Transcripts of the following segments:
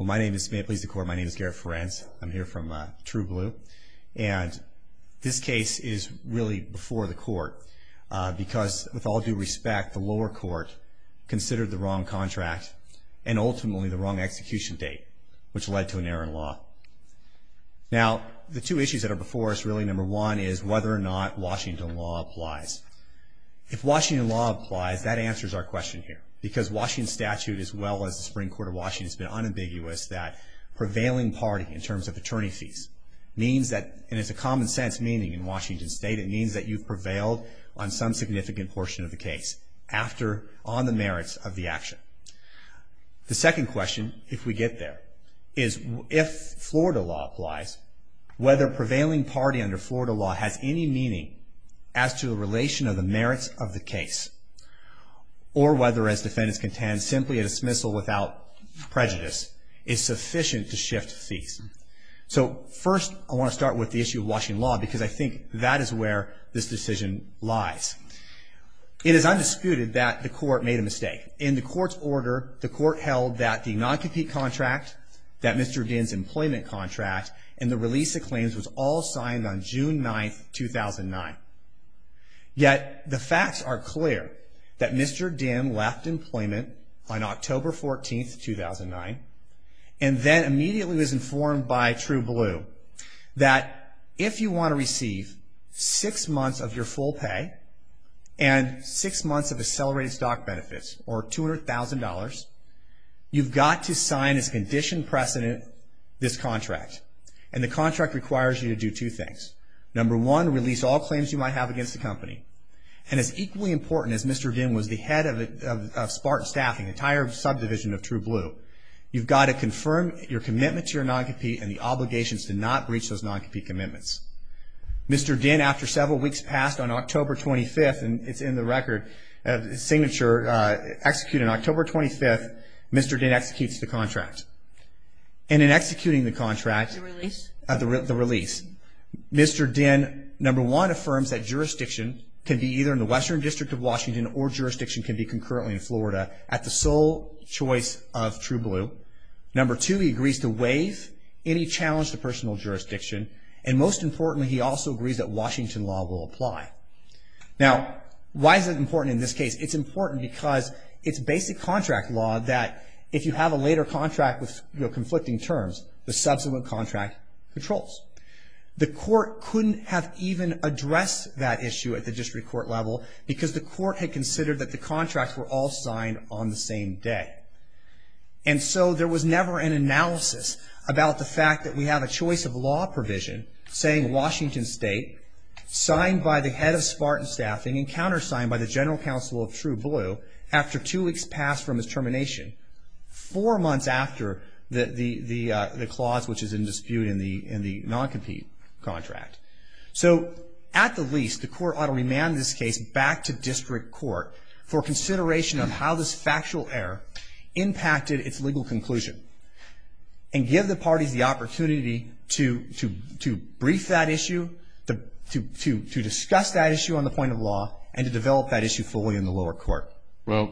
My name is Garrett Ferencz. I'm here from True Blue. And this case is really before the court because, with all due respect, the lower court considered the wrong contract and ultimately the wrong execution date, which led to an error in law. Now, the two issues that are before us really, number one, is whether or not Washington law applies. If Washington law applies, that answers our question here, because Washington statute as well as the Supreme Court of Washington has been unambiguous that prevailing party in terms of attorney fees means that, and it's a common sense meaning in Washington state, it means that you've prevailed on some significant portion of the case on the merits of the action. The second question, if we get there, is if Florida law applies, whether prevailing party under Florida law has any meaning as to the relation of the merits of the case, or whether, as defendants contend, simply a dismissal without prejudice is sufficient to shift fees. So, first, I want to start with the issue of Washington law because I think that is where this decision lies. It is undisputed that the court made a mistake. In the court's order, the court held that the non-compete contract, that Mr. Dyn's employment contract, and the release of claims was all signed on June 9, 2009. Yet, the facts are clear that Mr. Dyn left employment on October 14, 2009 and then immediately was informed by True Blue that if you want to receive six months of your full pay and six months of accelerated stock benefits, or $200,000, you've got to sign as conditioned precedent this contract, and the contract requires you to do two things. Number one, release all claims you might have against the company. And as equally important as Mr. Dyn was the head of Spartan Staffing, the entire subdivision of True Blue, you've got to confirm your commitment to your non-compete and the obligations to not breach those non-compete commitments. Mr. Dyn after several weeks passed on October 25th, and it's in the record signature, executed on October 25th, Mr. Dyn executes the contract. And in executing the contract, the release, Mr. Dyn, number one, affirms that jurisdiction can be either in the Western District of Washington or jurisdiction can be concurrently in Florida at the sole choice of True Blue. Number two, he agrees to waive any challenge to personal jurisdiction and most importantly, he also agrees that Washington law will apply. Now, why is it important in this case? It's important because it's basic contract law that if you have a later contract with a later contract, it controls. The court couldn't have even addressed that issue at the district court level because the court had considered that the contracts were all signed on the same day. And so there was never an analysis about the fact that we have a choice of law provision saying Washington State, signed by the head of Spartan Staffing and countersigned by the general counsel of True Blue after two weeks passed from his termination, four months after the clause which is in dispute in the non-compete contract. So at the least, the court ought to remand this case back to district court for consideration of how this factual error impacted its legal conclusion and give the parties the opportunity to brief that issue, to discuss that issue on the point of law, and to develop that issue fully in the lower court. Well,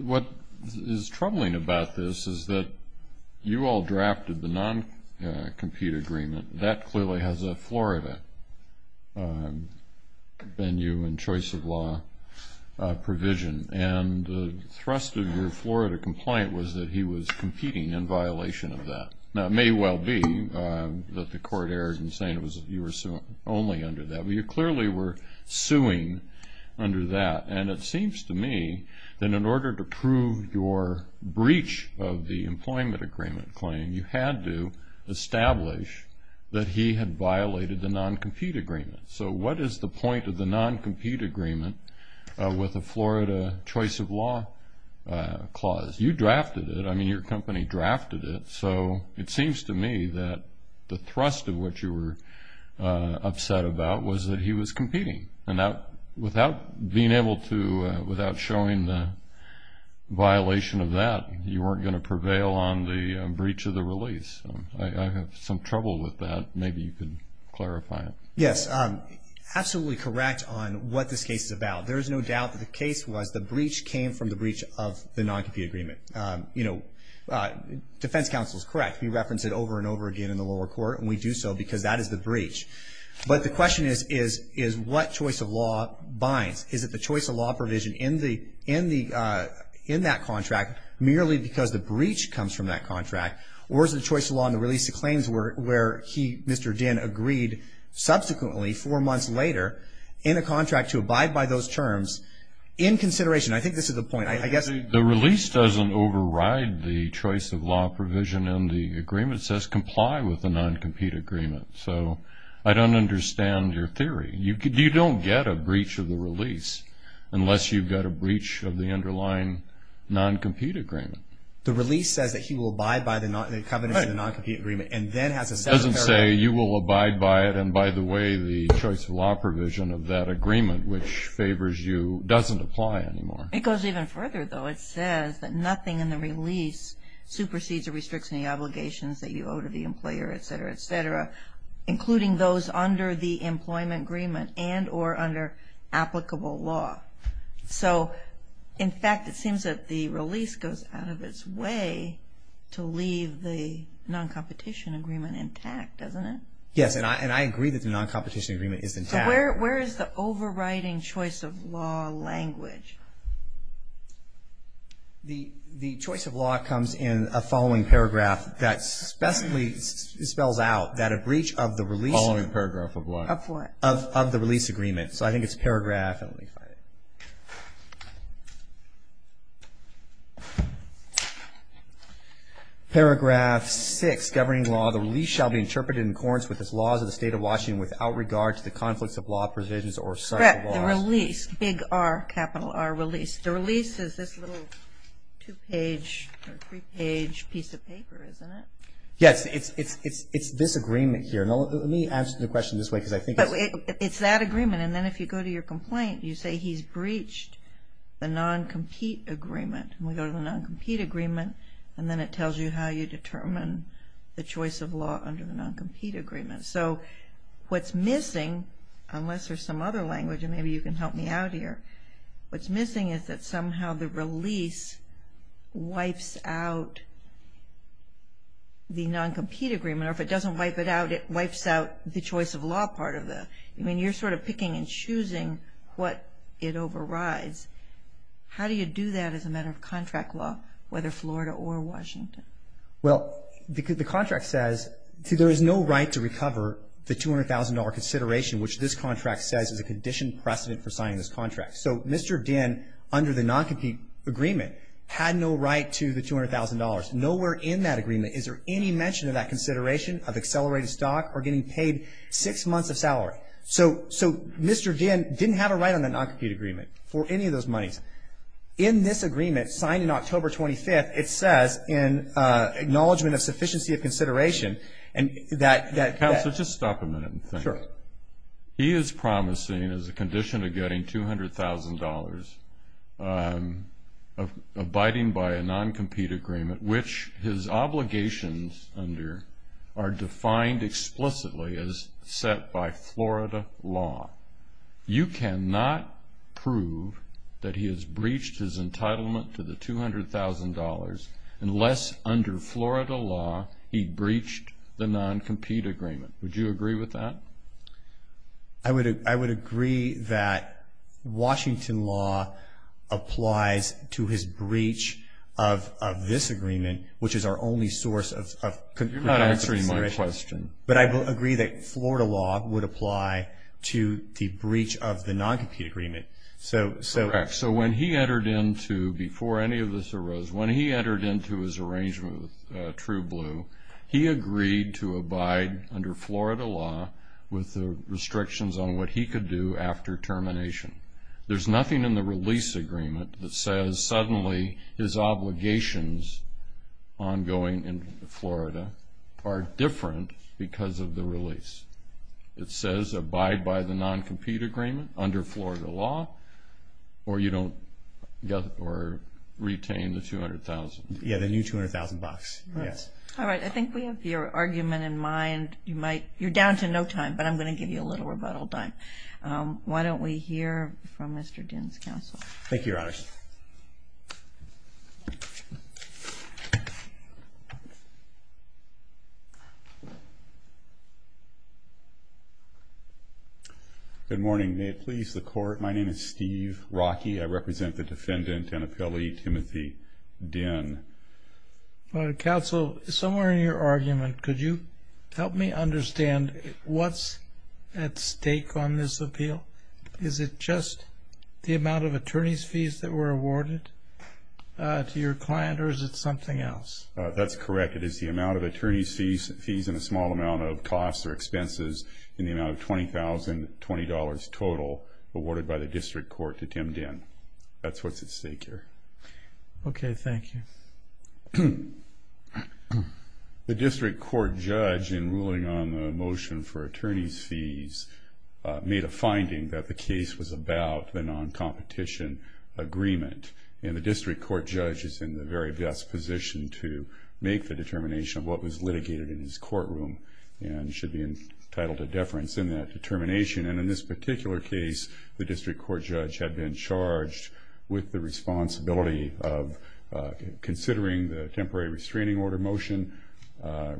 what is troubling about this is that you all drafted the non-compete agreement. That clearly has a Florida venue and choice of law provision. And the thrust of your Florida compliant was that he was competing in violation of that. Now it may well be that the court erred in saying you were suing only under that. But you clearly were suing under that. And it seems to me that in order to your breach of the employment agreement claim, you had to establish that he had violated the non-compete agreement. So what is the point of the non-compete agreement with the Florida choice of law clause? You drafted it. I mean, your company drafted it. So it seems to me that the thrust of what you were upset about was that he was competing. And without being able to, without showing the violation of that, you weren't going to prevail on the breach of the release. I have some trouble with that. Maybe you can clarify it. Yes, absolutely correct on what this case is about. There is no doubt that the case was the breach came from the breach of the non-compete agreement. You know, defense counsel is correct. We reference it over and over again in the lower court, and we do so because that is the breach. But the question is, what choice of law binds? Is it the choice of law provision in that contract merely because the breach comes from that contract, or is the choice of law in the release of claims where he, Mr. Dinn, agreed subsequently four months later in a contract to abide by those terms in consideration? I think this is the point. I guess... The release doesn't override the choice of law provision in the agreement. It says comply with the non-compete agreement. So I don't understand your theory. You don't get a breach of the release unless you've got a breach of the underlying non-compete agreement. The release says that he will abide by the covenants of the non-compete agreement, and then has a separate paragraph... It doesn't say you will abide by it, and by the way, the choice of law provision of that agreement, which favors you, doesn't apply anymore. It goes even further though. It says that nothing in the release supersedes or restricts any obligations that you owe to the employer, etc., etc., including those under the employment agreement and or under applicable law. So, in fact, it seems that the release goes out of its way to leave the non-competition agreement intact, doesn't it? Yes, and I agree that the non-competition agreement is intact. So where is the overriding choice of law language? The choice of law comes in a following paragraph that specifically spells out that a breach of the release... Following paragraph of what? Of the release agreement. So I think it's paragraph... Paragraph 6, governing law, the release shall be interpreted in accordance with the laws of the state of Washington without regard to the conflicts of law provisions or subject to laws... Correct, the release, big R, capital R, release. The release is this little two-page or three-page piece of It's this agreement here. Let me answer the question this way because I think... It's that agreement and then if you go to your complaint, you say he's breached the non-compete agreement. We go to the non-compete agreement and then it tells you how you determine the choice of law under the non-compete agreement. So what's missing, unless there's some other language and maybe you can help me out here, what's missing is that somehow the release wipes out the non-compete agreement or if it doesn't wipe it out, it wipes out the choice of law part of it. I mean, you're sort of picking and choosing what it overrides. How do you do that as a matter of contract law, whether Florida or Washington? Well, the contract says there is no right to recover the $200,000 consideration, which this contract says is a conditioned precedent for signing this contract. So Mr. Dinn, under the non-compete agreement, had no right to the $200,000. Nowhere in that agreement is there any mention of that consideration of accelerated stock or getting paid six months of salary. So Mr. Dinn didn't have a right on the non-compete agreement for any of those monies. In this agreement signed in October 25th, it says in Acknowledgement of Sufficiency of Consideration that... Counselor, just stop a minute and think. Sure. He is promising as a condition of getting $200,000 abiding by a non-compete agreement, which his obligations under are defined explicitly as set by Florida law. You cannot prove that he has breached his entitlement to the $200,000 unless under Florida law he breached the non-compete agreement. Would you agree with that? I would agree that Washington law applies to his breach of this agreement, which is our only source of... You're not answering my question. But I agree that Florida law would apply to the breach of the non-compete agreement. Correct. So when he entered into, before any of this arose, when he entered into his arrangement with True Blue, he agreed to abide under Florida law with the restrictions on what he could do after termination. There's nothing in the release agreement that says suddenly his obligations ongoing in Florida are different because of the release. It says abide by the non-compete agreement under Florida law or you don't get or retain the $200,000. Yeah, the new $200,000. Yes. All right. I think we have your argument in mind. You're down to no time, but I'm going to give you a little rebuttal time. Why don't we hear from Mr. Dinn's counsel? Thank you, Your Honor. Good morning. May it please the Court, my name is Steve Rockey. I represent the defendant, Anapeli Timothy Dinn. Your Honor, counsel, somewhere in your argument, could you help me understand what's at stake on this appeal? Is it just the amount of attorney's fees that were awarded to your client or is it something else? That's correct. It is the amount of attorney's fees and a small amount of costs or expenses in the amount of $20,000 total awarded by the district court to Tim Dinn. That's what's at stake here. Okay, thank you. The district court judge in ruling on the motion for attorney's fees made a finding that the case was about the non-competition agreement and the district court judge is in the very best position to make the determination of what was litigated in his courtroom and should be entitled to deference in that determination and in this particular case, the district court judge had been charged with the responsibility of considering the temporary restraining order motion,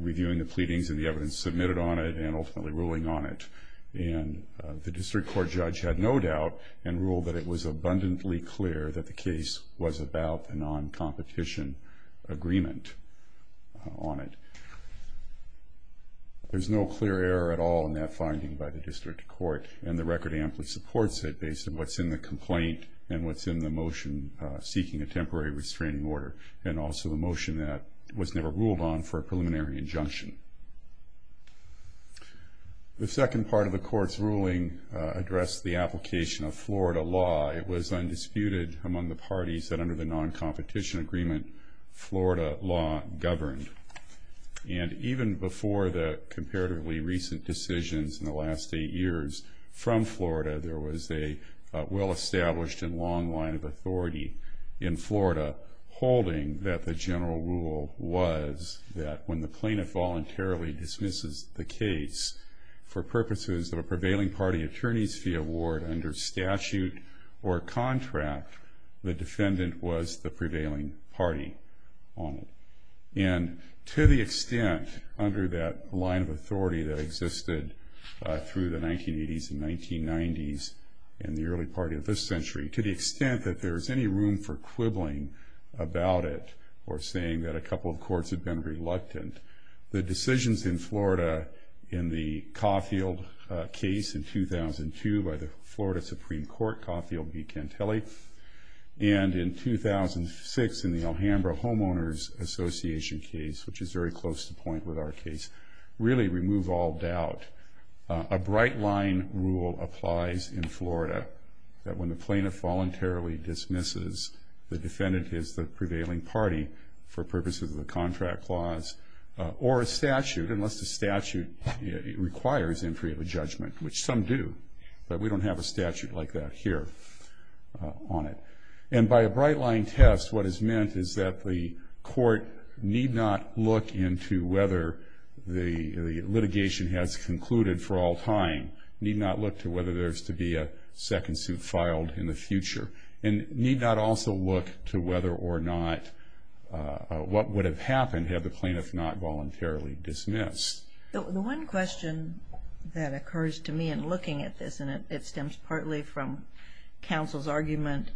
reviewing the pleadings and the evidence submitted on it and ultimately ruling on it and the district court judge had no doubt and ruled that it was abundantly clear that the case was about the non-competition agreement on it. There's no clear error at all in that finding by the district court and the record amply supports it based on what's in the complaint and what's in the motion seeking a temporary restraining order and also the motion that was never ruled on for a preliminary injunction. The second part of the court's ruling addressed the application of Florida law. It was undisputed among the parties that under the non-competition agreement Florida law governed and even before the comparatively recent decisions in the last eight years from Florida, there was a well-established and long line of authority in Florida holding that the general rule was that when the plaintiff voluntarily dismisses the case for purposes of a prevailing party attorney's fee award under statute or contract, the defendant was the prevailing party on it. And to the extent under that line of authority that existed through the 1980s and 1990s and the early part of this century, to the extent that there's any room for quibbling about it or saying that a couple of courts have been reluctant, the decisions in Florida in the Caulfield case in 2002 by the Florida Supreme Court, Caulfield v. Cantelli, and in 2006 in the Alhambra Homeowners Association case, which is very close to point with our case, really remove all doubt. A bright line rule applies in Florida that when the plaintiff voluntarily dismisses, the defendant is the prevailing party for purposes of the contract clause or a statute, unless the statute requires entry of a judgment, which some do, but we don't have a statute like that here on it. And by a bright line test, what is meant is that the court need not look into whether the litigation has concluded for all time, need not look to whether there's to be a second suit filed in the future, and need not also look to whether or not what would have happened had the plaintiff not voluntarily dismissed. The one question that occurs to me in looking at this, and it stems partly from counsel's argument,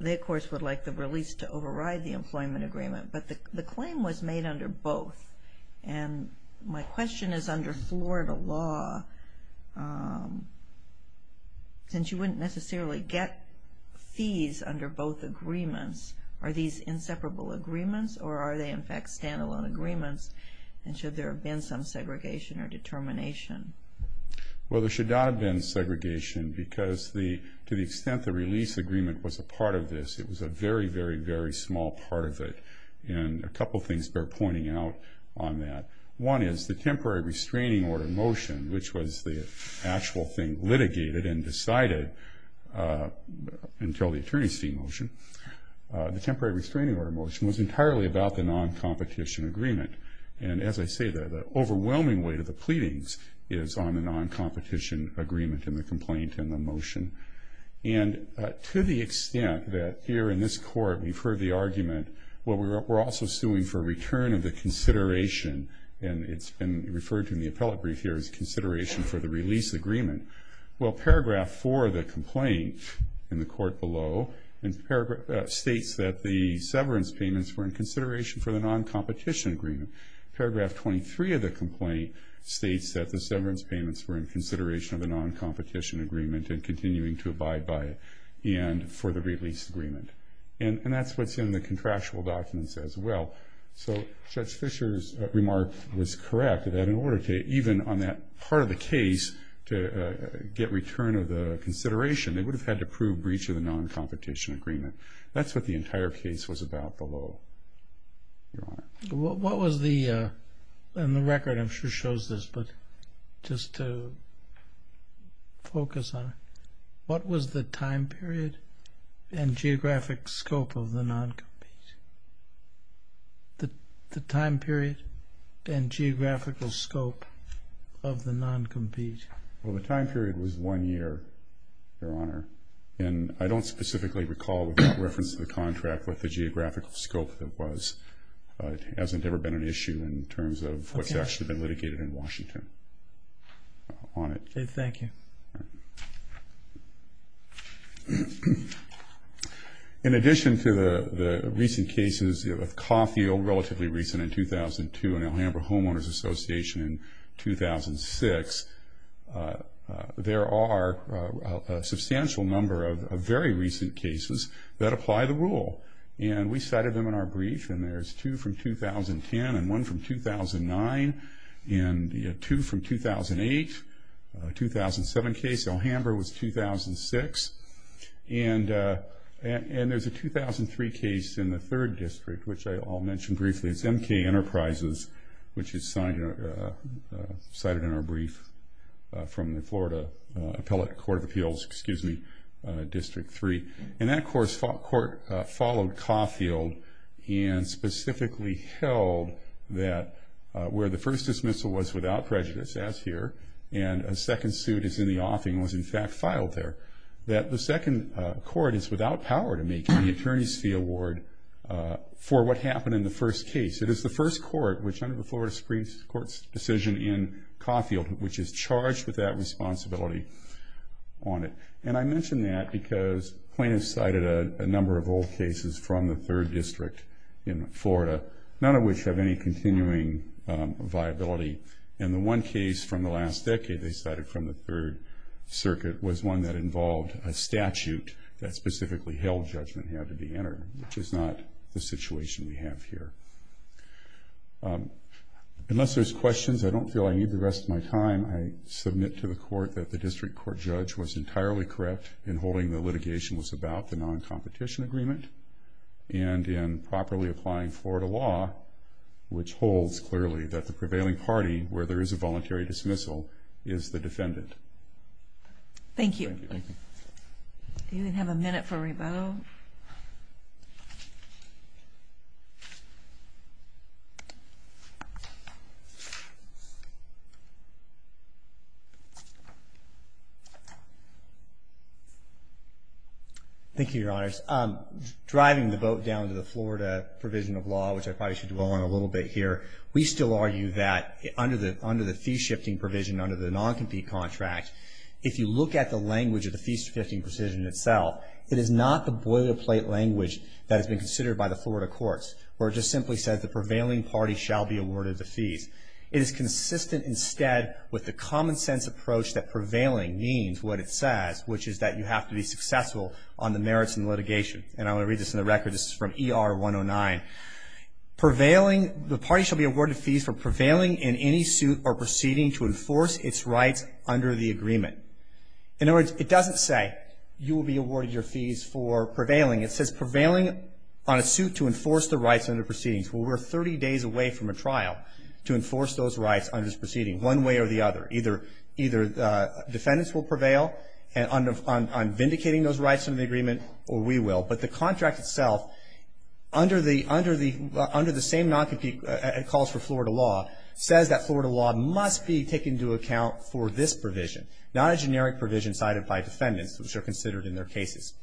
they of course would like the release to override the release made under both. And my question is under Florida law, since you wouldn't necessarily get fees under both agreements, are these inseparable agreements or are they in fact stand-alone agreements and should there have been some segregation or determination? Well, there should not have been segregation because to the extent the release agreement was a part of this, it was a very, very, very small part of it. And a couple things bear pointing out on that. One is the temporary restraining order motion, which was the actual thing litigated and decided until the attorney's fee motion. The temporary restraining order motion was entirely about the non-competition agreement. And as I say, the overwhelming weight of the pleadings is on the non-competition agreement and the complaint and the motion. And to the extent that here in this court we've heard the argument, well, we're also suing for return of the consideration, and it's been referred to in the appellate brief here, as consideration for the release agreement. Well, paragraph 4 of the complaint in the court below states that the severance payments were in consideration for the non-competition agreement. Paragraph 23 of the complaint states that the severance payments were in consideration of the non-competition agreement and continuing to abide by it for the release agreement. And that's what's in the contractual documents as well. So Judge Fischer's remark was correct, that in order to, even on that part of the case, to get return of the consideration, they would have had to prove breach of the non-competition agreement. That's what the entire case was about below, Your Honor. What was the, and the record I'm sure shows this, but just to focus on it, what was the time period and geographic scope of the non-compete? The time period and geographical scope of the non-compete? Well, the time period was one year, Your Honor. And I don't specifically recall, without reference to the contract, what the geographical scope of it was. It hasn't ever been an issue in terms of what's actually been litigated in Washington on it. Thank you. In addition to the recent cases of Caulfield, relatively recent in 2002, and Alhambra Homeowners Association in 2006, there are a substantial number of very recent cases that apply the rule. And we cited them in our brief, and there's two from 2010 and one from 2009, and two from 2008, a 2007 case. Alhambra was 2006. And there's a 2003 case in the third district, which I'll mention briefly. It's MK Enterprises, which is cited in our brief from the Florida Court of Appeals, District 3. And that court followed Caulfield and specifically held that where the first dismissal was without prejudice, as here, and a second suit is in the offing was in fact filed there, that the second court is without power to make any attorney's fee award for what happened in the first case. It is the first court, which under the Florida Supreme Court's decision in Caulfield, which is charged with that responsibility on it. And I mention that because plaintiffs cited a number of old cases from the third district in Florida, none of which have any continuing viability. And the one case from the last decade they cited from the third circuit was one that involved a statute that specifically held judgment had to be entered, which is not the situation we have here. Unless there's questions, I don't feel I need the rest of my time. I submit to the court that the district court judge was entirely correct in holding the litigation was about the non-competition agreement and in properly applying Florida law, which holds clearly that the prevailing party, where there is a voluntary dismissal, is the defendant. Thank you. Thank you, Your Honors. Driving the vote down to the Florida provision of law, which I probably should dwell on a little bit here, we still argue that under the fee-shifting provision, under the non-compete contract, if you look at the language of the fee-shifting provision itself, it is not the boilerplate language that has been considered by the Florida courts, where it just simply says the prevailing party shall be awarded the fees. It is consistent instead with the common sense approach that prevailing means what it says, which is that you have to be successful on the merits and litigation. And I want to read this in the record. This is from ER 109. The party shall be awarded fees for prevailing in any suit or proceeding to enforce its rights under the agreement. In other words, it doesn't say that you will be awarded your fees for prevailing. It says prevailing on a suit to enforce the rights under proceedings. Well, we're 30 days away from a trial to enforce those rights under this proceeding, one way or the other. Either defendants will prevail on vindicating those rights under the agreement, or we will. But the contract itself, under the same non-compete calls for Florida law, says that Florida law must be taken into account for this provision, not a generic provision cited by defendants, which are considered in their cases.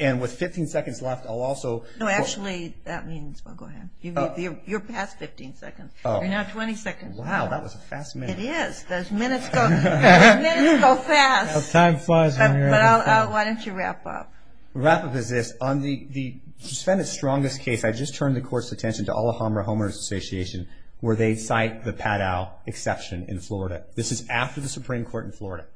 And with 15 seconds left, I'll also... Actually, you're past 15 seconds. You're now 20 seconds. Wow, that was a fast minute. It is. Those minutes go fast. Time flies when you're... Why don't you wrap up? Wrap up is this. On the defendant's strongest case, I just turned the court's attention to Alhambra Homeowners Association, where they cite the Padau exception in Florida. This is after the Supreme Court in Florida.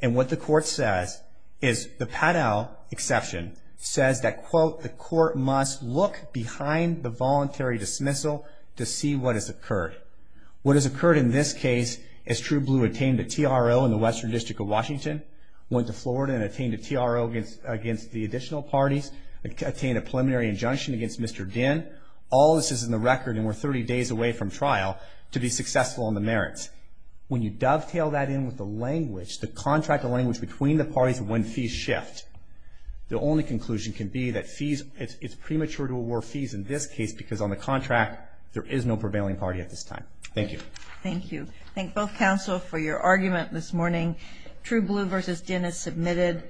And what the court says is the Padau exception says that the court must look behind the voluntary dismissal to see what has occurred. What has occurred in this case is True Blue obtained a TRO in the Western District of Washington, went to Florida and obtained a TRO against the additional parties, obtained a preliminary injunction against Mr. Dinh. All this is in the record, and we're 30 days away from trial to be successful on the merits. When you dovetail that in with the language, the contract, the language between the parties when fees shift, the only conclusion can be that it's premature to award fees in this case because on the contract, there is no prevailing party at this time. Thank you. Thank you. Thank both counsel for your argument this morning. True Blue v. Dinh is submitted.